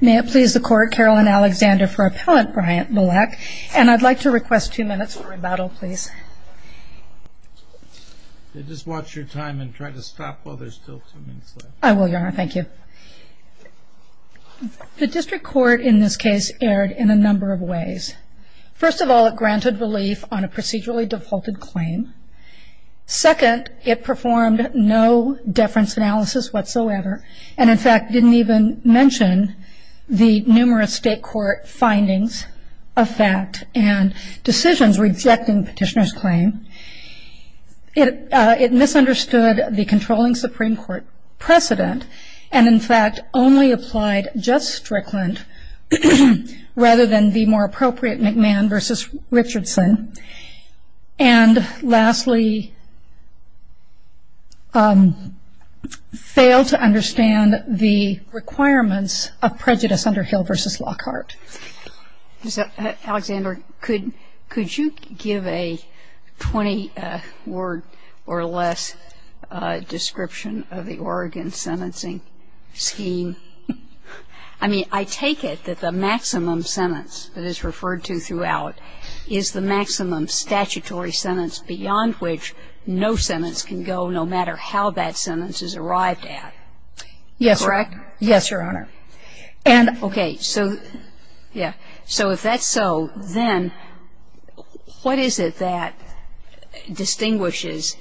May it please the court, Carolyn Alexander for appellant Brian Belleque, and I'd like to request two minutes for rebuttal, please. Just watch your time and try to stop while there's still two minutes left. I will, Your Honor. Thank you. The district court in this case erred in a number of ways. First of all, it granted relief on a procedurally defaulted claim. Second, it performed no deference analysis whatsoever and in fact didn't even mention the numerous state court findings of fact and decisions rejecting petitioner's claim. It misunderstood the controlling Supreme Court precedent and in fact only applied just Strickland rather than the more appropriate McMahon v. Richardson. And lastly, failed to understand the requirements of prejudice under Hill v. Lockhart. Alexander, could you give a 20-word or less description of the Oregon sentencing scheme? I mean, I take it that the maximum sentence that is referred to throughout is the maximum statutory sentence beyond which no sentence can go no matter how that sentence is arrived at. Yes, Your Honor. Is that correct? Yes, Your Honor. Okay. So, yeah. So if that's so, then what is it that distinguishes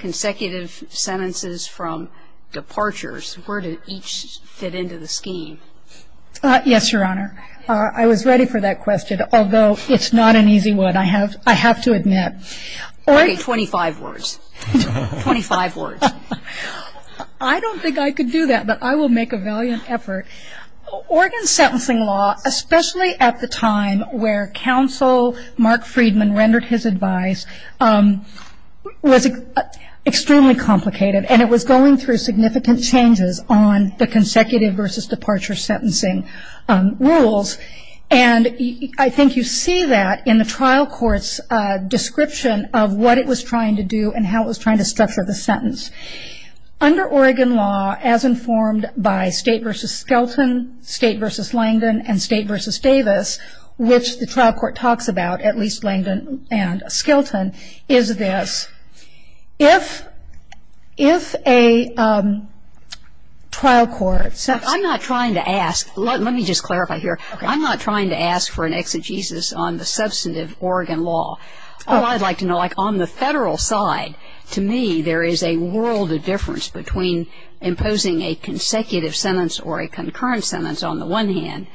consecutive sentences from departures? Where do each fit into the scheme? Yes, Your Honor. I was ready for that question, although it's not an easy one. I have to admit. Okay, 25 words. 25 words. I don't think I could do that, but I will make a valiant effort. Oregon's sentencing law, especially at the time where counsel Mark Friedman rendered his advice, was extremely complicated and it was going through significant changes on the consecutive versus departure sentencing rules. And I think you see that in the trial court's description of what it was trying to do and how it was trying to structure the sentence. Under Oregon law, as informed by State v. Skelton, State v. Langdon, and State v. Davis, which the trial court talks about, at least Langdon and Skelton, is this. If a trial court... I'm not trying to ask. Let me just clarify here. I'm not trying to ask for an exegesis on the substantive Oregon law. All I'd like to know, like on the federal side, to me there is a world of difference between imposing a consecutive sentence or a concurrent sentence on the one hand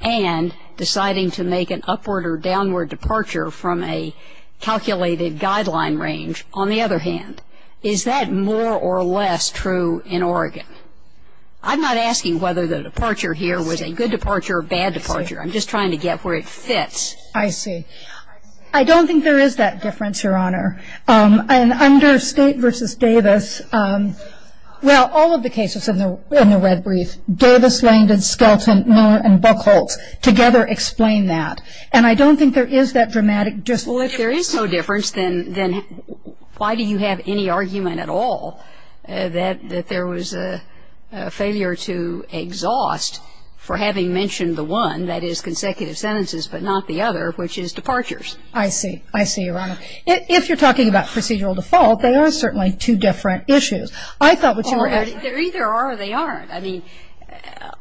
and deciding to make an upward or downward departure from a calculated guideline range. On the other hand, is that more or less true in Oregon? I'm not asking whether the departure here was a good departure or a bad departure. I'm just trying to get where it fits. I see. I don't think there is that difference, Your Honor. And under State v. Davis, well, all of the cases in the red brief, Davis, Langdon, Skelton, Miller, and Buchholz together explain that. And I don't think there is that dramatic difference. Well, if there is no difference, then why do you have any argument at all that there was a failure to exhaust for having mentioned the one, that is consecutive sentences but not the other, which is departures? I see. I see, Your Honor. If you're talking about procedural default, they are certainly two different issues. I thought what you were asking me. Well, they either are or they aren't. I mean,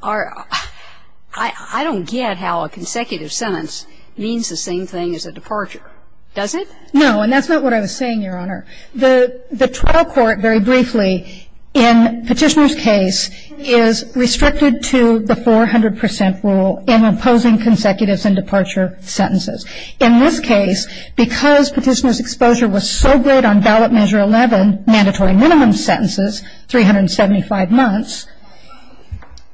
I don't get how a consecutive sentence means the same thing as a departure. Does it? No. And that's not what I was saying, Your Honor. The trial court, very briefly, in Petitioner's case, is restricted to the 400 percent rule in imposing consecutive and departure sentences. In this case, because Petitioner's exposure was so good on ballot measure 11, mandatory minimum sentences, 375 months,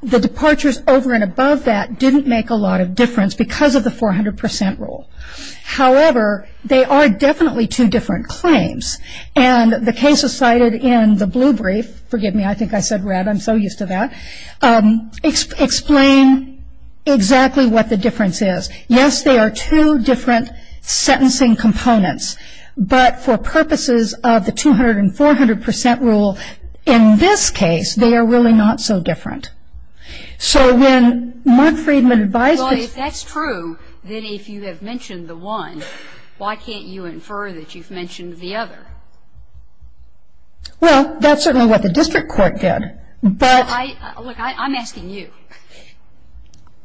the departures over and above that didn't make a lot of difference because of the 400 percent rule. However, they are definitely two different claims. And the cases cited in the blue brief, forgive me, I think I said red. I'm so used to that. Explain exactly what the difference is. Yes, they are two different sentencing components. But for purposes of the 200 and 400 percent rule, in this case, they are really not so different. So when Mark Freedman advised us. Well, if that's true, then if you have mentioned the one, why can't you infer that you've mentioned the other? Well, that's certainly what the district court did. Look, I'm asking you.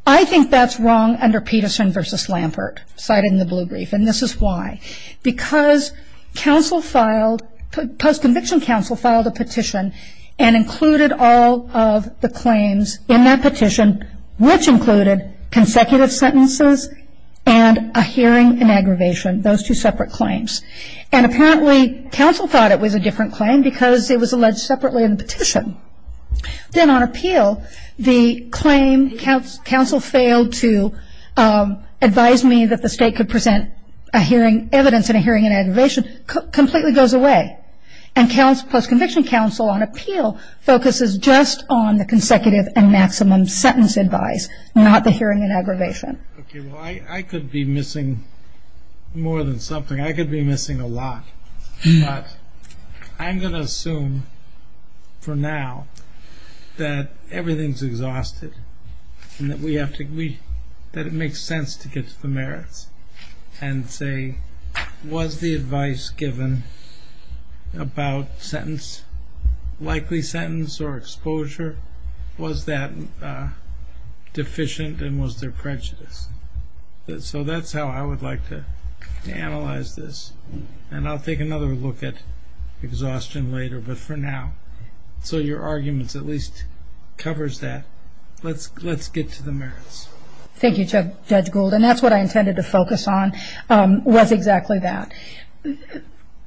I think that's wrong under Peterson v. Lampert, cited in the blue brief. And this is why. Because counsel filed, post-conviction counsel filed a petition and included all of the claims in that petition, which included consecutive sentences and a hearing in aggravation, those two separate claims. And apparently, counsel thought it was a different claim because it was alleged separately in the petition. Then on appeal, the claim, counsel failed to advise me that the state could present a hearing evidence and a hearing in aggravation completely goes away. And post-conviction counsel on appeal focuses just on the consecutive and maximum sentence advised, not the hearing in aggravation. Okay, well, I could be missing more than something. I could be missing a lot. But I'm going to assume for now that everything's exhausted and that it makes sense to get to the merits and say was the advice given about sentence, likely sentence or exposure, was that deficient and was there prejudice? So that's how I would like to analyze this. And I'll take another look at exhaustion later, but for now. So your arguments at least covers that. Let's get to the merits. Thank you, Judge Gould. And that's what I intended to focus on was exactly that.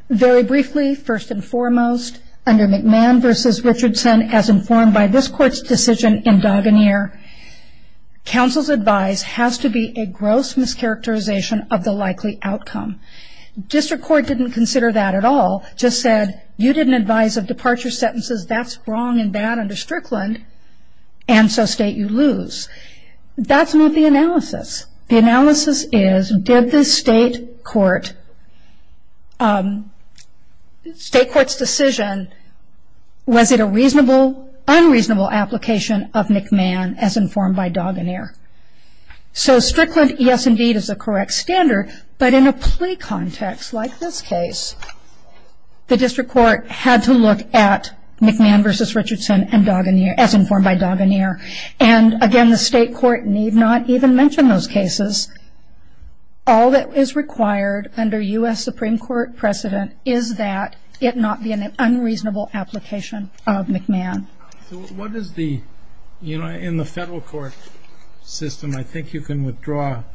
Very briefly, first and foremost, under McMahon v. Richardson, as informed by this court's decision in Duganere, counsel's advice has to be a gross mischaracterization of the likely outcome. District court didn't consider that at all, just said, you didn't advise of departure sentences, that's wrong and bad under Strickland, and so state you lose. That's not the analysis. The analysis is did the state court's decision, was it a reasonable, unreasonable application of McMahon as informed by Duganere? So Strickland, yes, indeed, is a correct standard, but in a plea context like this case, the district court had to look at McMahon v. Richardson as informed by Duganere. And, again, the state court need not even mention those cases. All that is required under U.S. Supreme Court precedent is that it not be an unreasonable application of McMahon. So what is the, you know, in the federal court system, I think you can withdraw a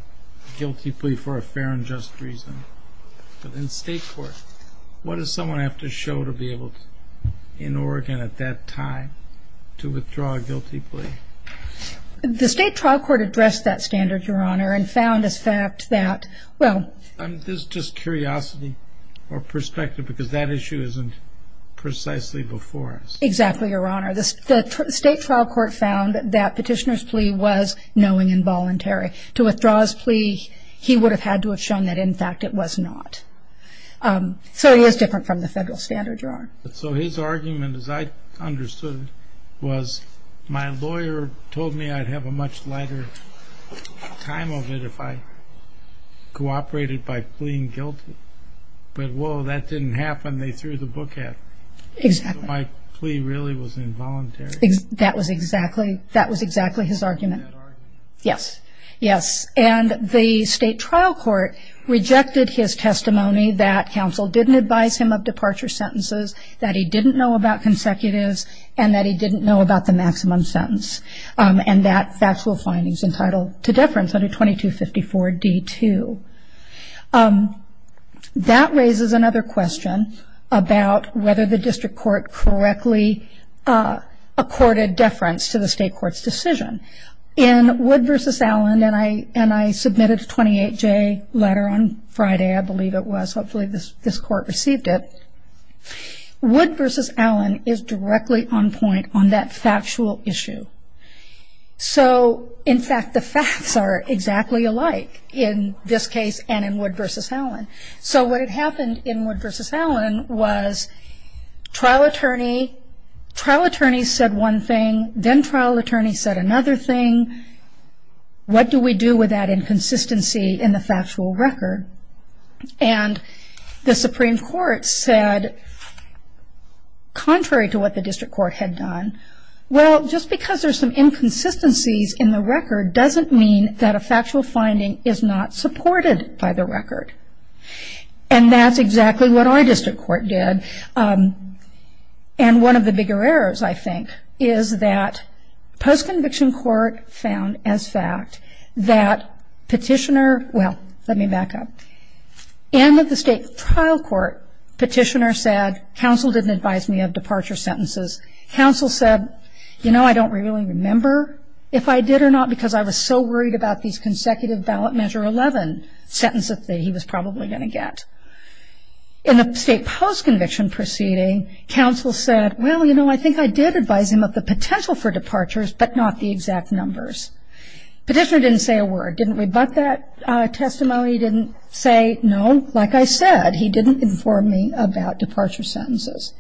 guilty plea for a fair and just reason. But in state court, what does someone have to show to be able to, in Oregon at that time, to withdraw a guilty plea? The state trial court addressed that standard, Your Honor, and found, in fact, that, well. This is just curiosity or perspective because that issue isn't precisely before us. Exactly, Your Honor. The state trial court found that Petitioner's plea was knowing and voluntary. To withdraw his plea, he would have had to have shown that, in fact, it was not. So he is different from the federal standard, Your Honor. So his argument, as I understood it, was my lawyer told me I'd have a much lighter time of it if I cooperated by pleading guilty. But, whoa, that didn't happen. They threw the book at me. Exactly. So my plea really was involuntary. That was exactly his argument. Yes, yes. And the state trial court rejected his testimony that counsel didn't advise him of departure sentences, that he didn't know about consecutives, and that he didn't know about the maximum sentence, and that factual findings entitled to deference under 2254 D2. That raises another question about whether the district court correctly accorded deference to the state court's decision. In Wood v. Allen, and I submitted a 28-J letter on Friday, I believe it was. Hopefully this court received it. Wood v. Allen is directly on point on that factual issue. So, in fact, the facts are exactly alike in this case and in Wood v. Allen. So what had happened in Wood v. Allen was trial attorney said one thing, then trial attorney said another thing. What do we do with that inconsistency in the factual record? And the Supreme Court said, contrary to what the district court had done, well, just because there's some inconsistencies in the record doesn't mean that a factual finding is not supported by the record. And that's exactly what our district court did. And one of the bigger errors, I think, is that post-conviction court found as fact that petitioner, well, let me back up. In the state trial court, petitioner said, counsel didn't advise me of departure sentences. Counsel said, you know, I don't really remember if I did or not because I was so worried about these consecutive ballot measure 11 sentences that he was probably going to get. In the state post-conviction proceeding, counsel said, well, you know, I think I did advise him of the potential for departures, but not the exact numbers. Petitioner didn't say a word. Didn't rebut that testimony. Didn't say, no, like I said, he didn't inform me about departure sentences.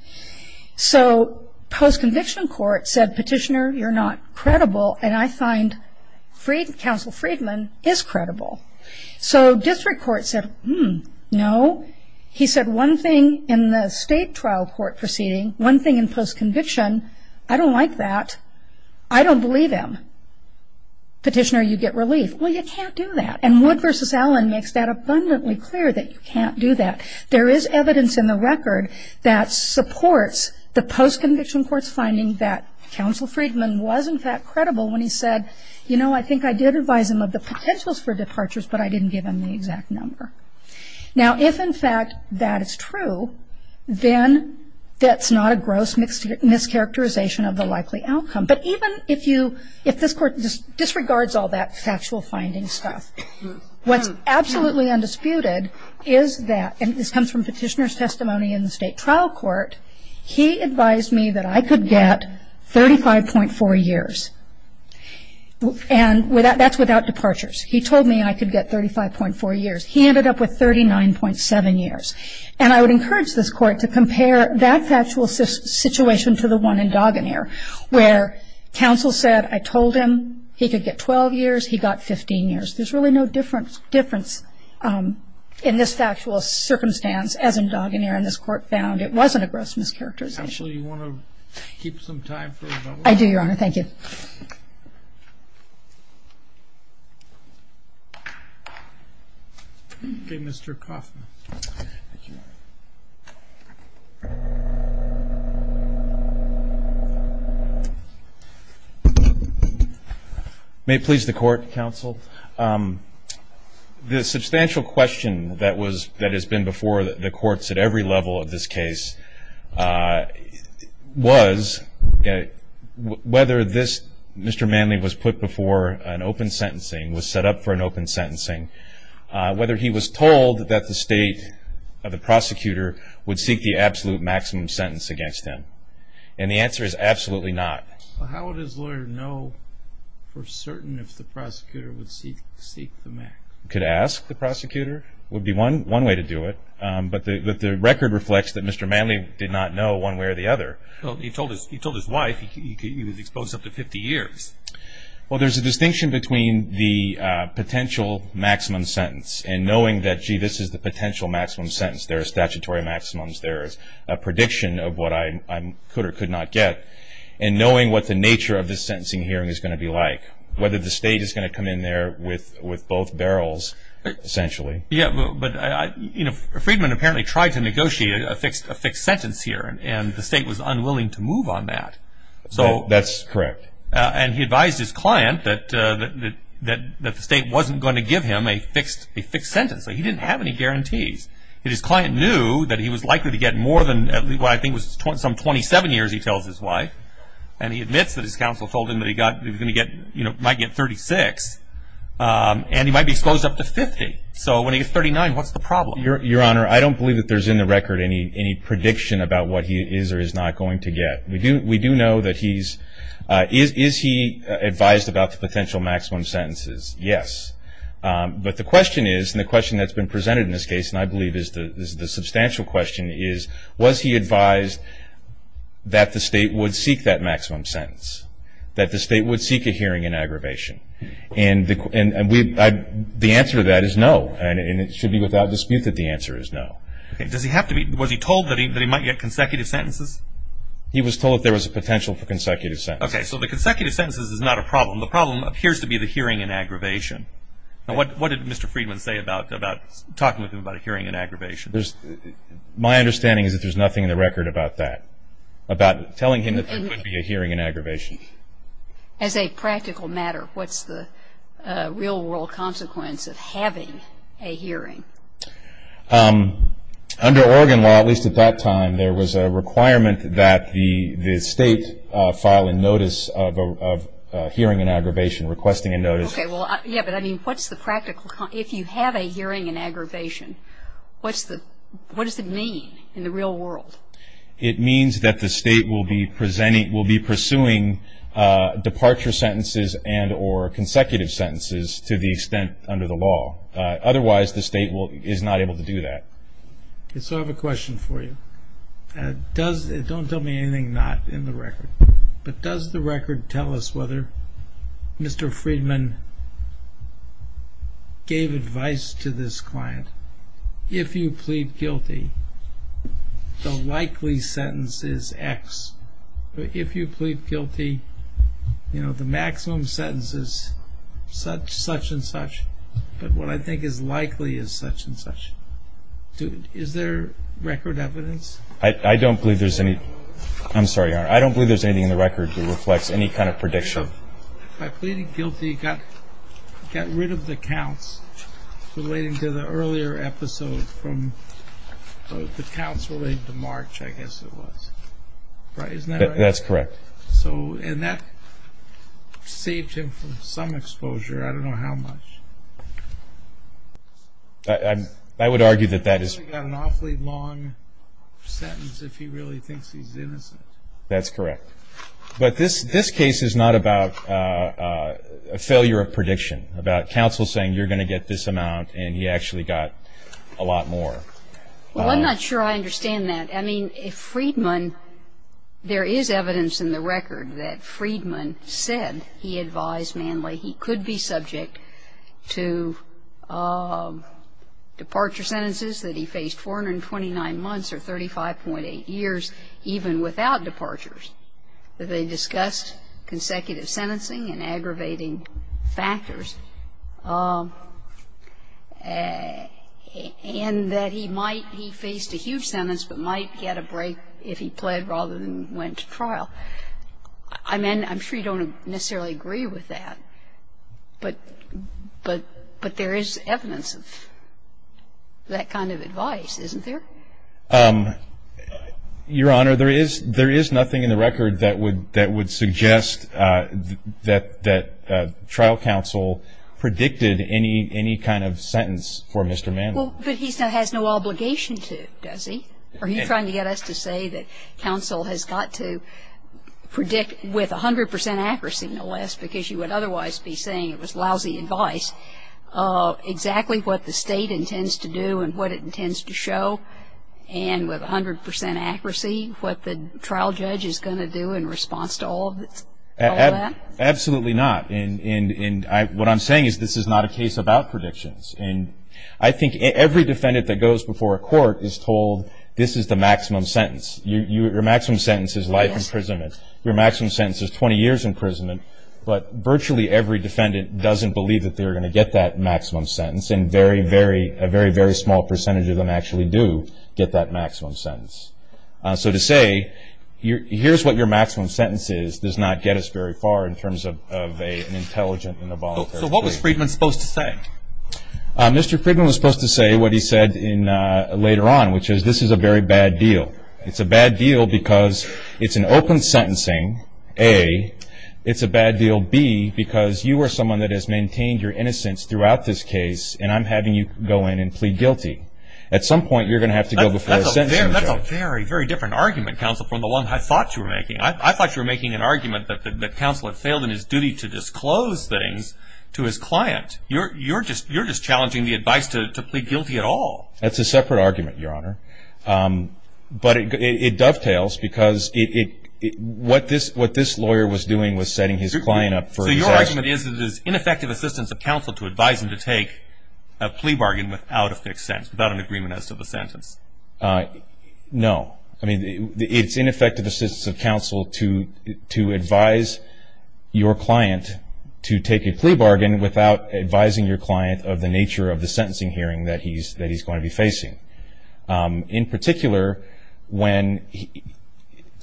So post-conviction court said, petitioner, you're not credible, and I find counsel Friedman is credible. So district court said, hmm, no. He said one thing in the state trial court proceeding, one thing in post-conviction, I don't like that. I don't believe him. Petitioner, you get relief. Well, you can't do that. And Wood v. Allen makes that abundantly clear that you can't do that. There is evidence in the record that supports the post-conviction court's finding that counsel Friedman was, in fact, credible when he said, you know, I think I did advise him of the potentials for departures, but I didn't give him the exact number. Now, if, in fact, that is true, then that's not a gross mischaracterization of the likely outcome. But even if you, if this court disregards all that factual finding stuff, what's absolutely undisputed is that, and this comes from petitioner's testimony in the state trial court, he advised me that I could get 35.4 years. And that's without departures. He told me I could get 35.4 years. He ended up with 39.7 years. And I would encourage this court to compare that factual situation to the one in Dagener, where counsel said, I told him he could get 12 years, he got 15 years. There's really no difference in this factual circumstance as in Dagener, and this court found it wasn't a gross mischaracterization. Counsel, do you want to keep some time for rebuttal? I do, Your Honor. Thank you. Okay, Mr. Koffman. Thank you. May it please the court, counsel. The substantial question that was, that has been before the courts at every level of this case, was whether this Mr. Manley was put before an open sentencing, was set up for an open sentencing, whether he was told that the state, the prosecutor would seek the absolute maximum sentence against him. And the answer is absolutely not. How would his lawyer know for certain if the prosecutor would seek the maximum? Could ask the prosecutor would be one way to do it. But the record reflects that Mr. Manley did not know one way or the other. He told his wife he was exposed up to 50 years. Well, there's a distinction between the potential maximum sentence and knowing that, gee, this is the potential maximum sentence. There are statutory maximums. There is a prediction of what I could or could not get. And knowing what the nature of this sentencing hearing is going to be like, whether the state is going to come in there with both barrels, essentially. Yeah, but Friedman apparently tried to negotiate a fixed sentence here, and the state was unwilling to move on that. That's correct. And he advised his client that the state wasn't going to give him a fixed sentence. He didn't have any guarantees. His client knew that he was likely to get more than what I think was some 27 years, he tells his wife. And he admits that his counsel told him that he might get 36, and he might be exposed up to 50. So when he's 39, what's the problem? Your Honor, I don't believe that there's in the record any prediction about what he is or is not going to get. We do know that he's – is he advised about the potential maximum sentences? Yes. But the question is, and the question that's been presented in this case, and I believe is the substantial question, is was he advised that the state would seek that maximum sentence, that the state would seek a hearing in aggravation? And the answer to that is no, and it should be without dispute that the answer is no. Okay. Does he have to be – was he told that he might get consecutive sentences? He was told there was a potential for consecutive sentences. Okay. So the consecutive sentences is not a problem. The problem appears to be the hearing in aggravation. What did Mr. Friedman say about talking with him about a hearing in aggravation? My understanding is that there's nothing in the record about that, about telling him that there could be a hearing in aggravation. As a practical matter, what's the real-world consequence of having a hearing? Under Oregon law, at least at that time, there was a requirement that the state file a notice of hearing in aggravation, requesting a notice. Okay. Well, yeah, but I mean, what's the practical – if you have a hearing in aggravation, what's the – what does it mean in the real world? It means that the state will be pursuing departure sentences and or consecutive sentences to the extent under the law. Otherwise, the state is not able to do that. Okay. So I have a question for you. Don't tell me anything not in the record, but does the record tell us whether Mr. Friedman gave advice to this client, that if you plead guilty, the likely sentence is X. If you plead guilty, you know, the maximum sentence is such and such, but what I think is likely is such and such. Is there record evidence? I don't believe there's any – I'm sorry, Your Honor. I don't believe there's anything in the record that reflects any kind of prediction. By pleading guilty, he got rid of the counts relating to the earlier episode from – the counts relating to March, I guess it was, right? Isn't that right? That's correct. So – and that saved him from some exposure. I don't know how much. I would argue that that is – He's only got an awfully long sentence if he really thinks he's innocent. That's correct. But this case is not about a failure of prediction, about counsel saying you're going to get this amount and he actually got a lot more. Well, I'm not sure I understand that. I mean, if Friedman – there is evidence in the record that Friedman said he advised Manley he could be subject to departure sentences that he faced 429 months or 35.8 years even without departures, that they discussed consecutive sentencing and aggravating factors, and that he might – he faced a huge sentence but might get a break if he pled rather than went to trial. I'm sure you don't necessarily agree with that, but there is evidence of that kind of advice, isn't there? Your Honor, there is nothing in the record that would suggest that trial counsel predicted any kind of sentence for Mr. Manley. Well, but he still has no obligation to, does he? Are you trying to get us to say that counsel has got to predict with 100 percent accuracy, no less, because you would otherwise be saying it was lousy advice, exactly what the state intends to do and what it intends to show, and with 100 percent accuracy what the trial judge is going to do in response to all of that? Absolutely not. And what I'm saying is this is not a case about predictions. I think every defendant that goes before a court is told this is the maximum sentence. Your maximum sentence is life imprisonment. Your maximum sentence is 20 years imprisonment. But virtually every defendant doesn't believe that they're going to get that maximum sentence, and a very, very small percentage of them actually do get that maximum sentence. So to say here's what your maximum sentence is does not get us very far in terms of an intelligent and a voluntary case. So what was Friedman supposed to say? Mr. Friedman was supposed to say what he said later on, which is this is a very bad deal. It's a bad deal because it's an open sentencing, A. It's a bad deal, B, because you are someone that has maintained your innocence throughout this case, and I'm having you go in and plead guilty. At some point you're going to have to go before a sentencing judge. That's a very, very different argument, counsel, from the one I thought you were making. I thought you were making an argument that counsel had failed in his duty to disclose things to his client. You're just challenging the advice to plead guilty at all. That's a separate argument, Your Honor. But it dovetails because what this lawyer was doing was setting his client up for disaster. So your argument is that it is ineffective assistance of counsel to advise him to take a plea bargain without a fixed sentence, without an agreement as to the sentence. No. I mean, it's ineffective assistance of counsel to advise your client to take a plea bargain without advising your client of the nature of the sentencing hearing that he's going to be facing. In particular,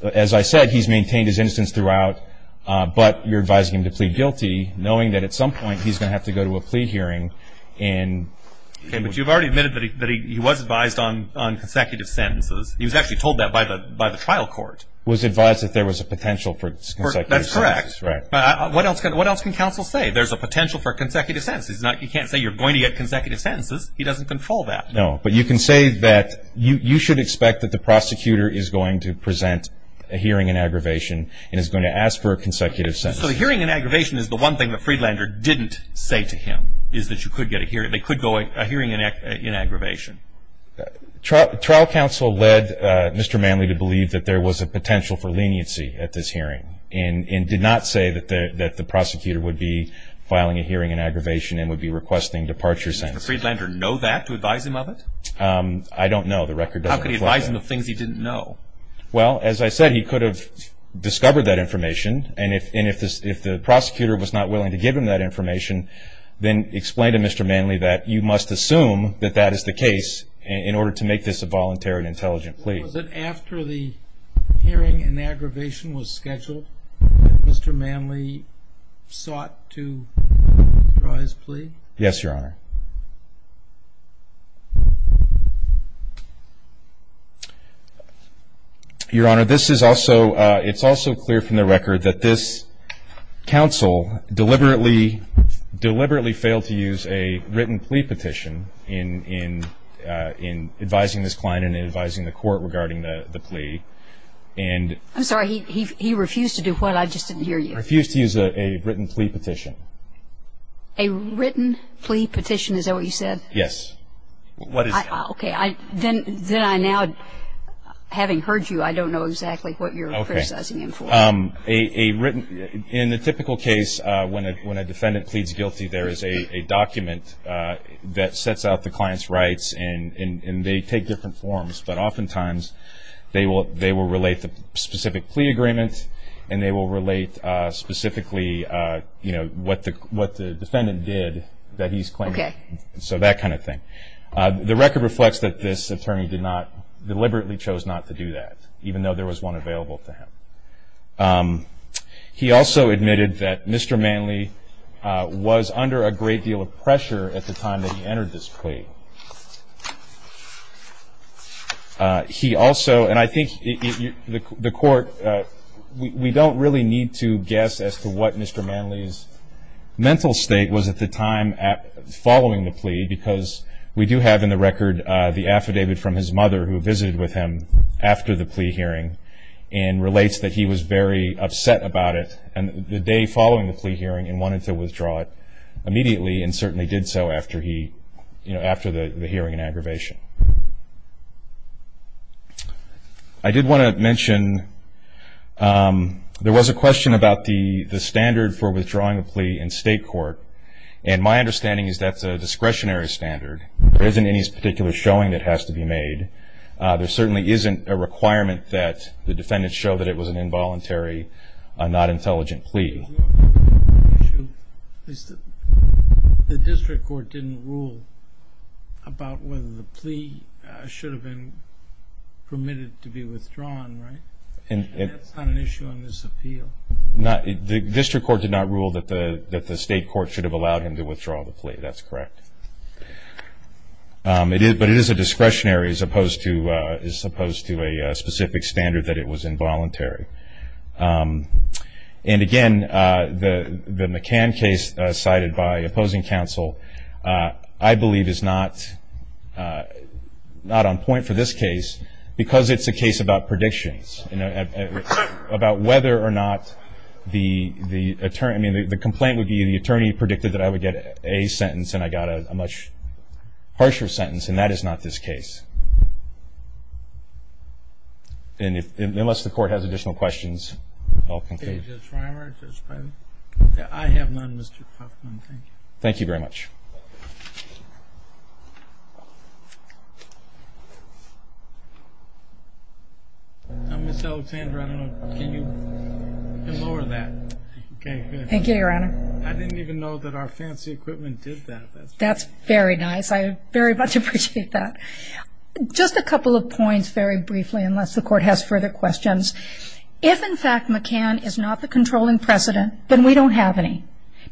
as I said, he's maintained his innocence throughout, but you're advising him to plead guilty knowing that at some point he's going to have to go to a plea hearing. But you've already admitted that he was advised on consecutive sentences. He was actually told that by the trial court. He was advised that there was a potential for consecutive sentences. That's correct. What else can counsel say? There's a potential for consecutive sentences. You can't say you're going to get consecutive sentences. He doesn't control that. No, but you can say that you should expect that the prosecutor is going to present a hearing in aggravation and is going to ask for a consecutive sentence. So a hearing in aggravation is the one thing that Friedlander didn't say to him, is that you could get a hearing. They could go a hearing in aggravation. Trial counsel led Mr. Manley to believe that there was a potential for leniency at this hearing and did not say that the prosecutor would be filing a hearing in aggravation and would be requesting departure sentences. Did Mr. Friedlander know that to advise him of it? I don't know. The record doesn't reflect that. How could he advise him of things he didn't know? Well, as I said, he could have discovered that information, and if the prosecutor was not willing to give him that information, then explain to Mr. Manley that you must assume that that is the case in order to make this a voluntary and intelligent plea. Was it after the hearing in aggravation was scheduled that Mr. Manley sought to draw his plea? Yes, Your Honor. Your Honor, it's also clear from the record that this counsel deliberately failed to use a written plea petition in advising this client and in advising the court regarding the plea. I'm sorry. He refused to do what? I just didn't hear you. He refused to use a written plea petition. A written plea petition? Is that what you said? Yes. Okay. Then I now, having heard you, I don't know exactly what you're criticizing him for. In the typical case, when a defendant pleads guilty, there is a document that sets out the client's rights, and they take different forms. But oftentimes, they will relate the specific plea agreement, and they will relate specifically what the defendant did that he's claiming. Okay. So that kind of thing. The record reflects that this attorney deliberately chose not to do that, even though there was one available to him. He also admitted that Mr. Manley was under a great deal of pressure at the time that he entered this plea. He also, and I think the court, we don't really need to guess as to what Mr. Manley's mental state was at the time following the plea, because we do have in the record the affidavit from his mother, who visited with him after the plea hearing, and relates that he was very upset about it the day following the plea hearing and wanted to withdraw it immediately, and certainly did so after the hearing and aggravation. I did want to mention there was a question about the standard for withdrawing a plea in state court, and my understanding is that's a discretionary standard. There isn't any particular showing that has to be made. There certainly isn't a requirement that the defendant show that it was an involuntary, not intelligent plea. The district court didn't rule about whether the plea should have been permitted to be withdrawn, right? That's not an issue on this appeal. The district court did not rule that the state court should have allowed him to withdraw the plea. That's correct. But it is a discretionary as opposed to a specific standard that it was involuntary. And again, the McCann case cited by opposing counsel I believe is not on point for this case, because it's a case about predictions, about whether or not the attorney, I mean the complaint would be the attorney predicted that I would get a sentence and I got a much harsher sentence, and that is not this case. Unless the court has additional questions, I'll conclude. Okay, Judge Reimer, Judge Feinberg? Thank you very much. Ms. Alexandra, can you lower that? Okay, good. Thank you, Your Honor. I didn't even know that our fancy equipment did that. That's very nice. I very much appreciate that. Just a couple of points very briefly, unless the court has further questions. If, in fact, McCann is not the controlling precedent, then we don't have any,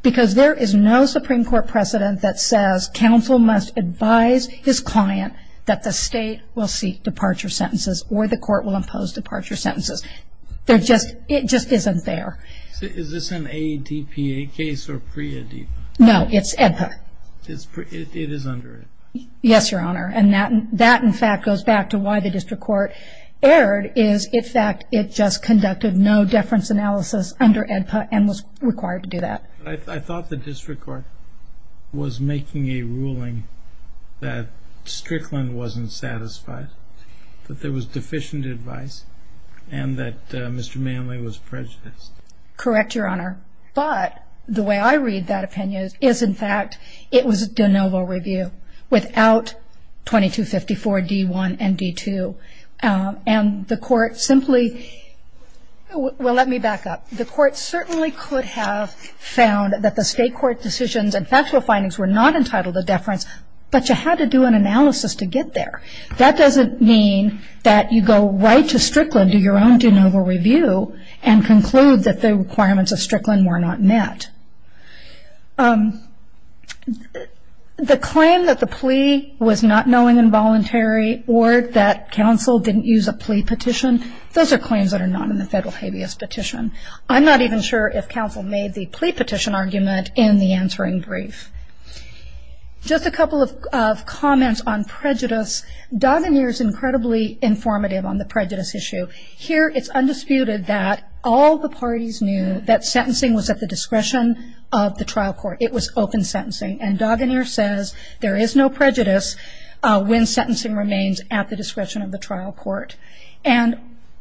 because there is no Supreme Court precedent that says counsel must advise his client that the state will seek departure sentences or the court will impose departure sentences. It just isn't there. Is this an ADPA case or pre-ADPA? No, it's ADPA. It is under ADPA. Yes, Your Honor. I thought the district court was making a ruling that Strickland wasn't satisfied, that there was deficient advice, and that Mr. Manley was prejudiced. Correct, Your Honor. But the way I read that opinion is, in fact, it was a de novo review without 2254 D1 and D2. And the court simply – well, let me back up. The court certainly could have found that the state court decisions and factual findings were not entitled to deference, but you had to do an analysis to get there. That doesn't mean that you go right to Strickland, do your own de novo review, and conclude that the requirements of Strickland were not met. The claim that the plea was not knowing and voluntary or that counsel didn't use a plea petition, those are claims that are not in the federal habeas petition. I'm not even sure if counsel made the plea petition argument in the answering brief. Just a couple of comments on prejudice. Donahue is incredibly informative on the prejudice issue. Here it's undisputed that all the parties knew that sentencing was at the discretion of the trial court. It was open sentencing. And Dagener says there is no prejudice when sentencing remains at the discretion of the trial court. And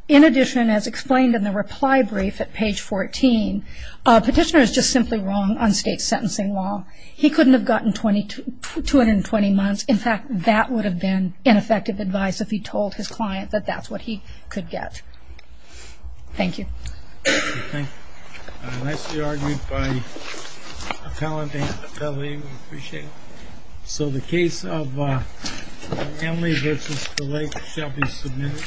in addition, as explained in the reply brief at page 14, petitioner is just simply wrong on state sentencing law. He couldn't have gotten 220 months. In fact, that would have been ineffective advice if he told his client that that's what he could get. Thank you. Thank you. Nicely argued by a talented attorney. We appreciate it. So the case of Annalee v. DeLake shall be submitted.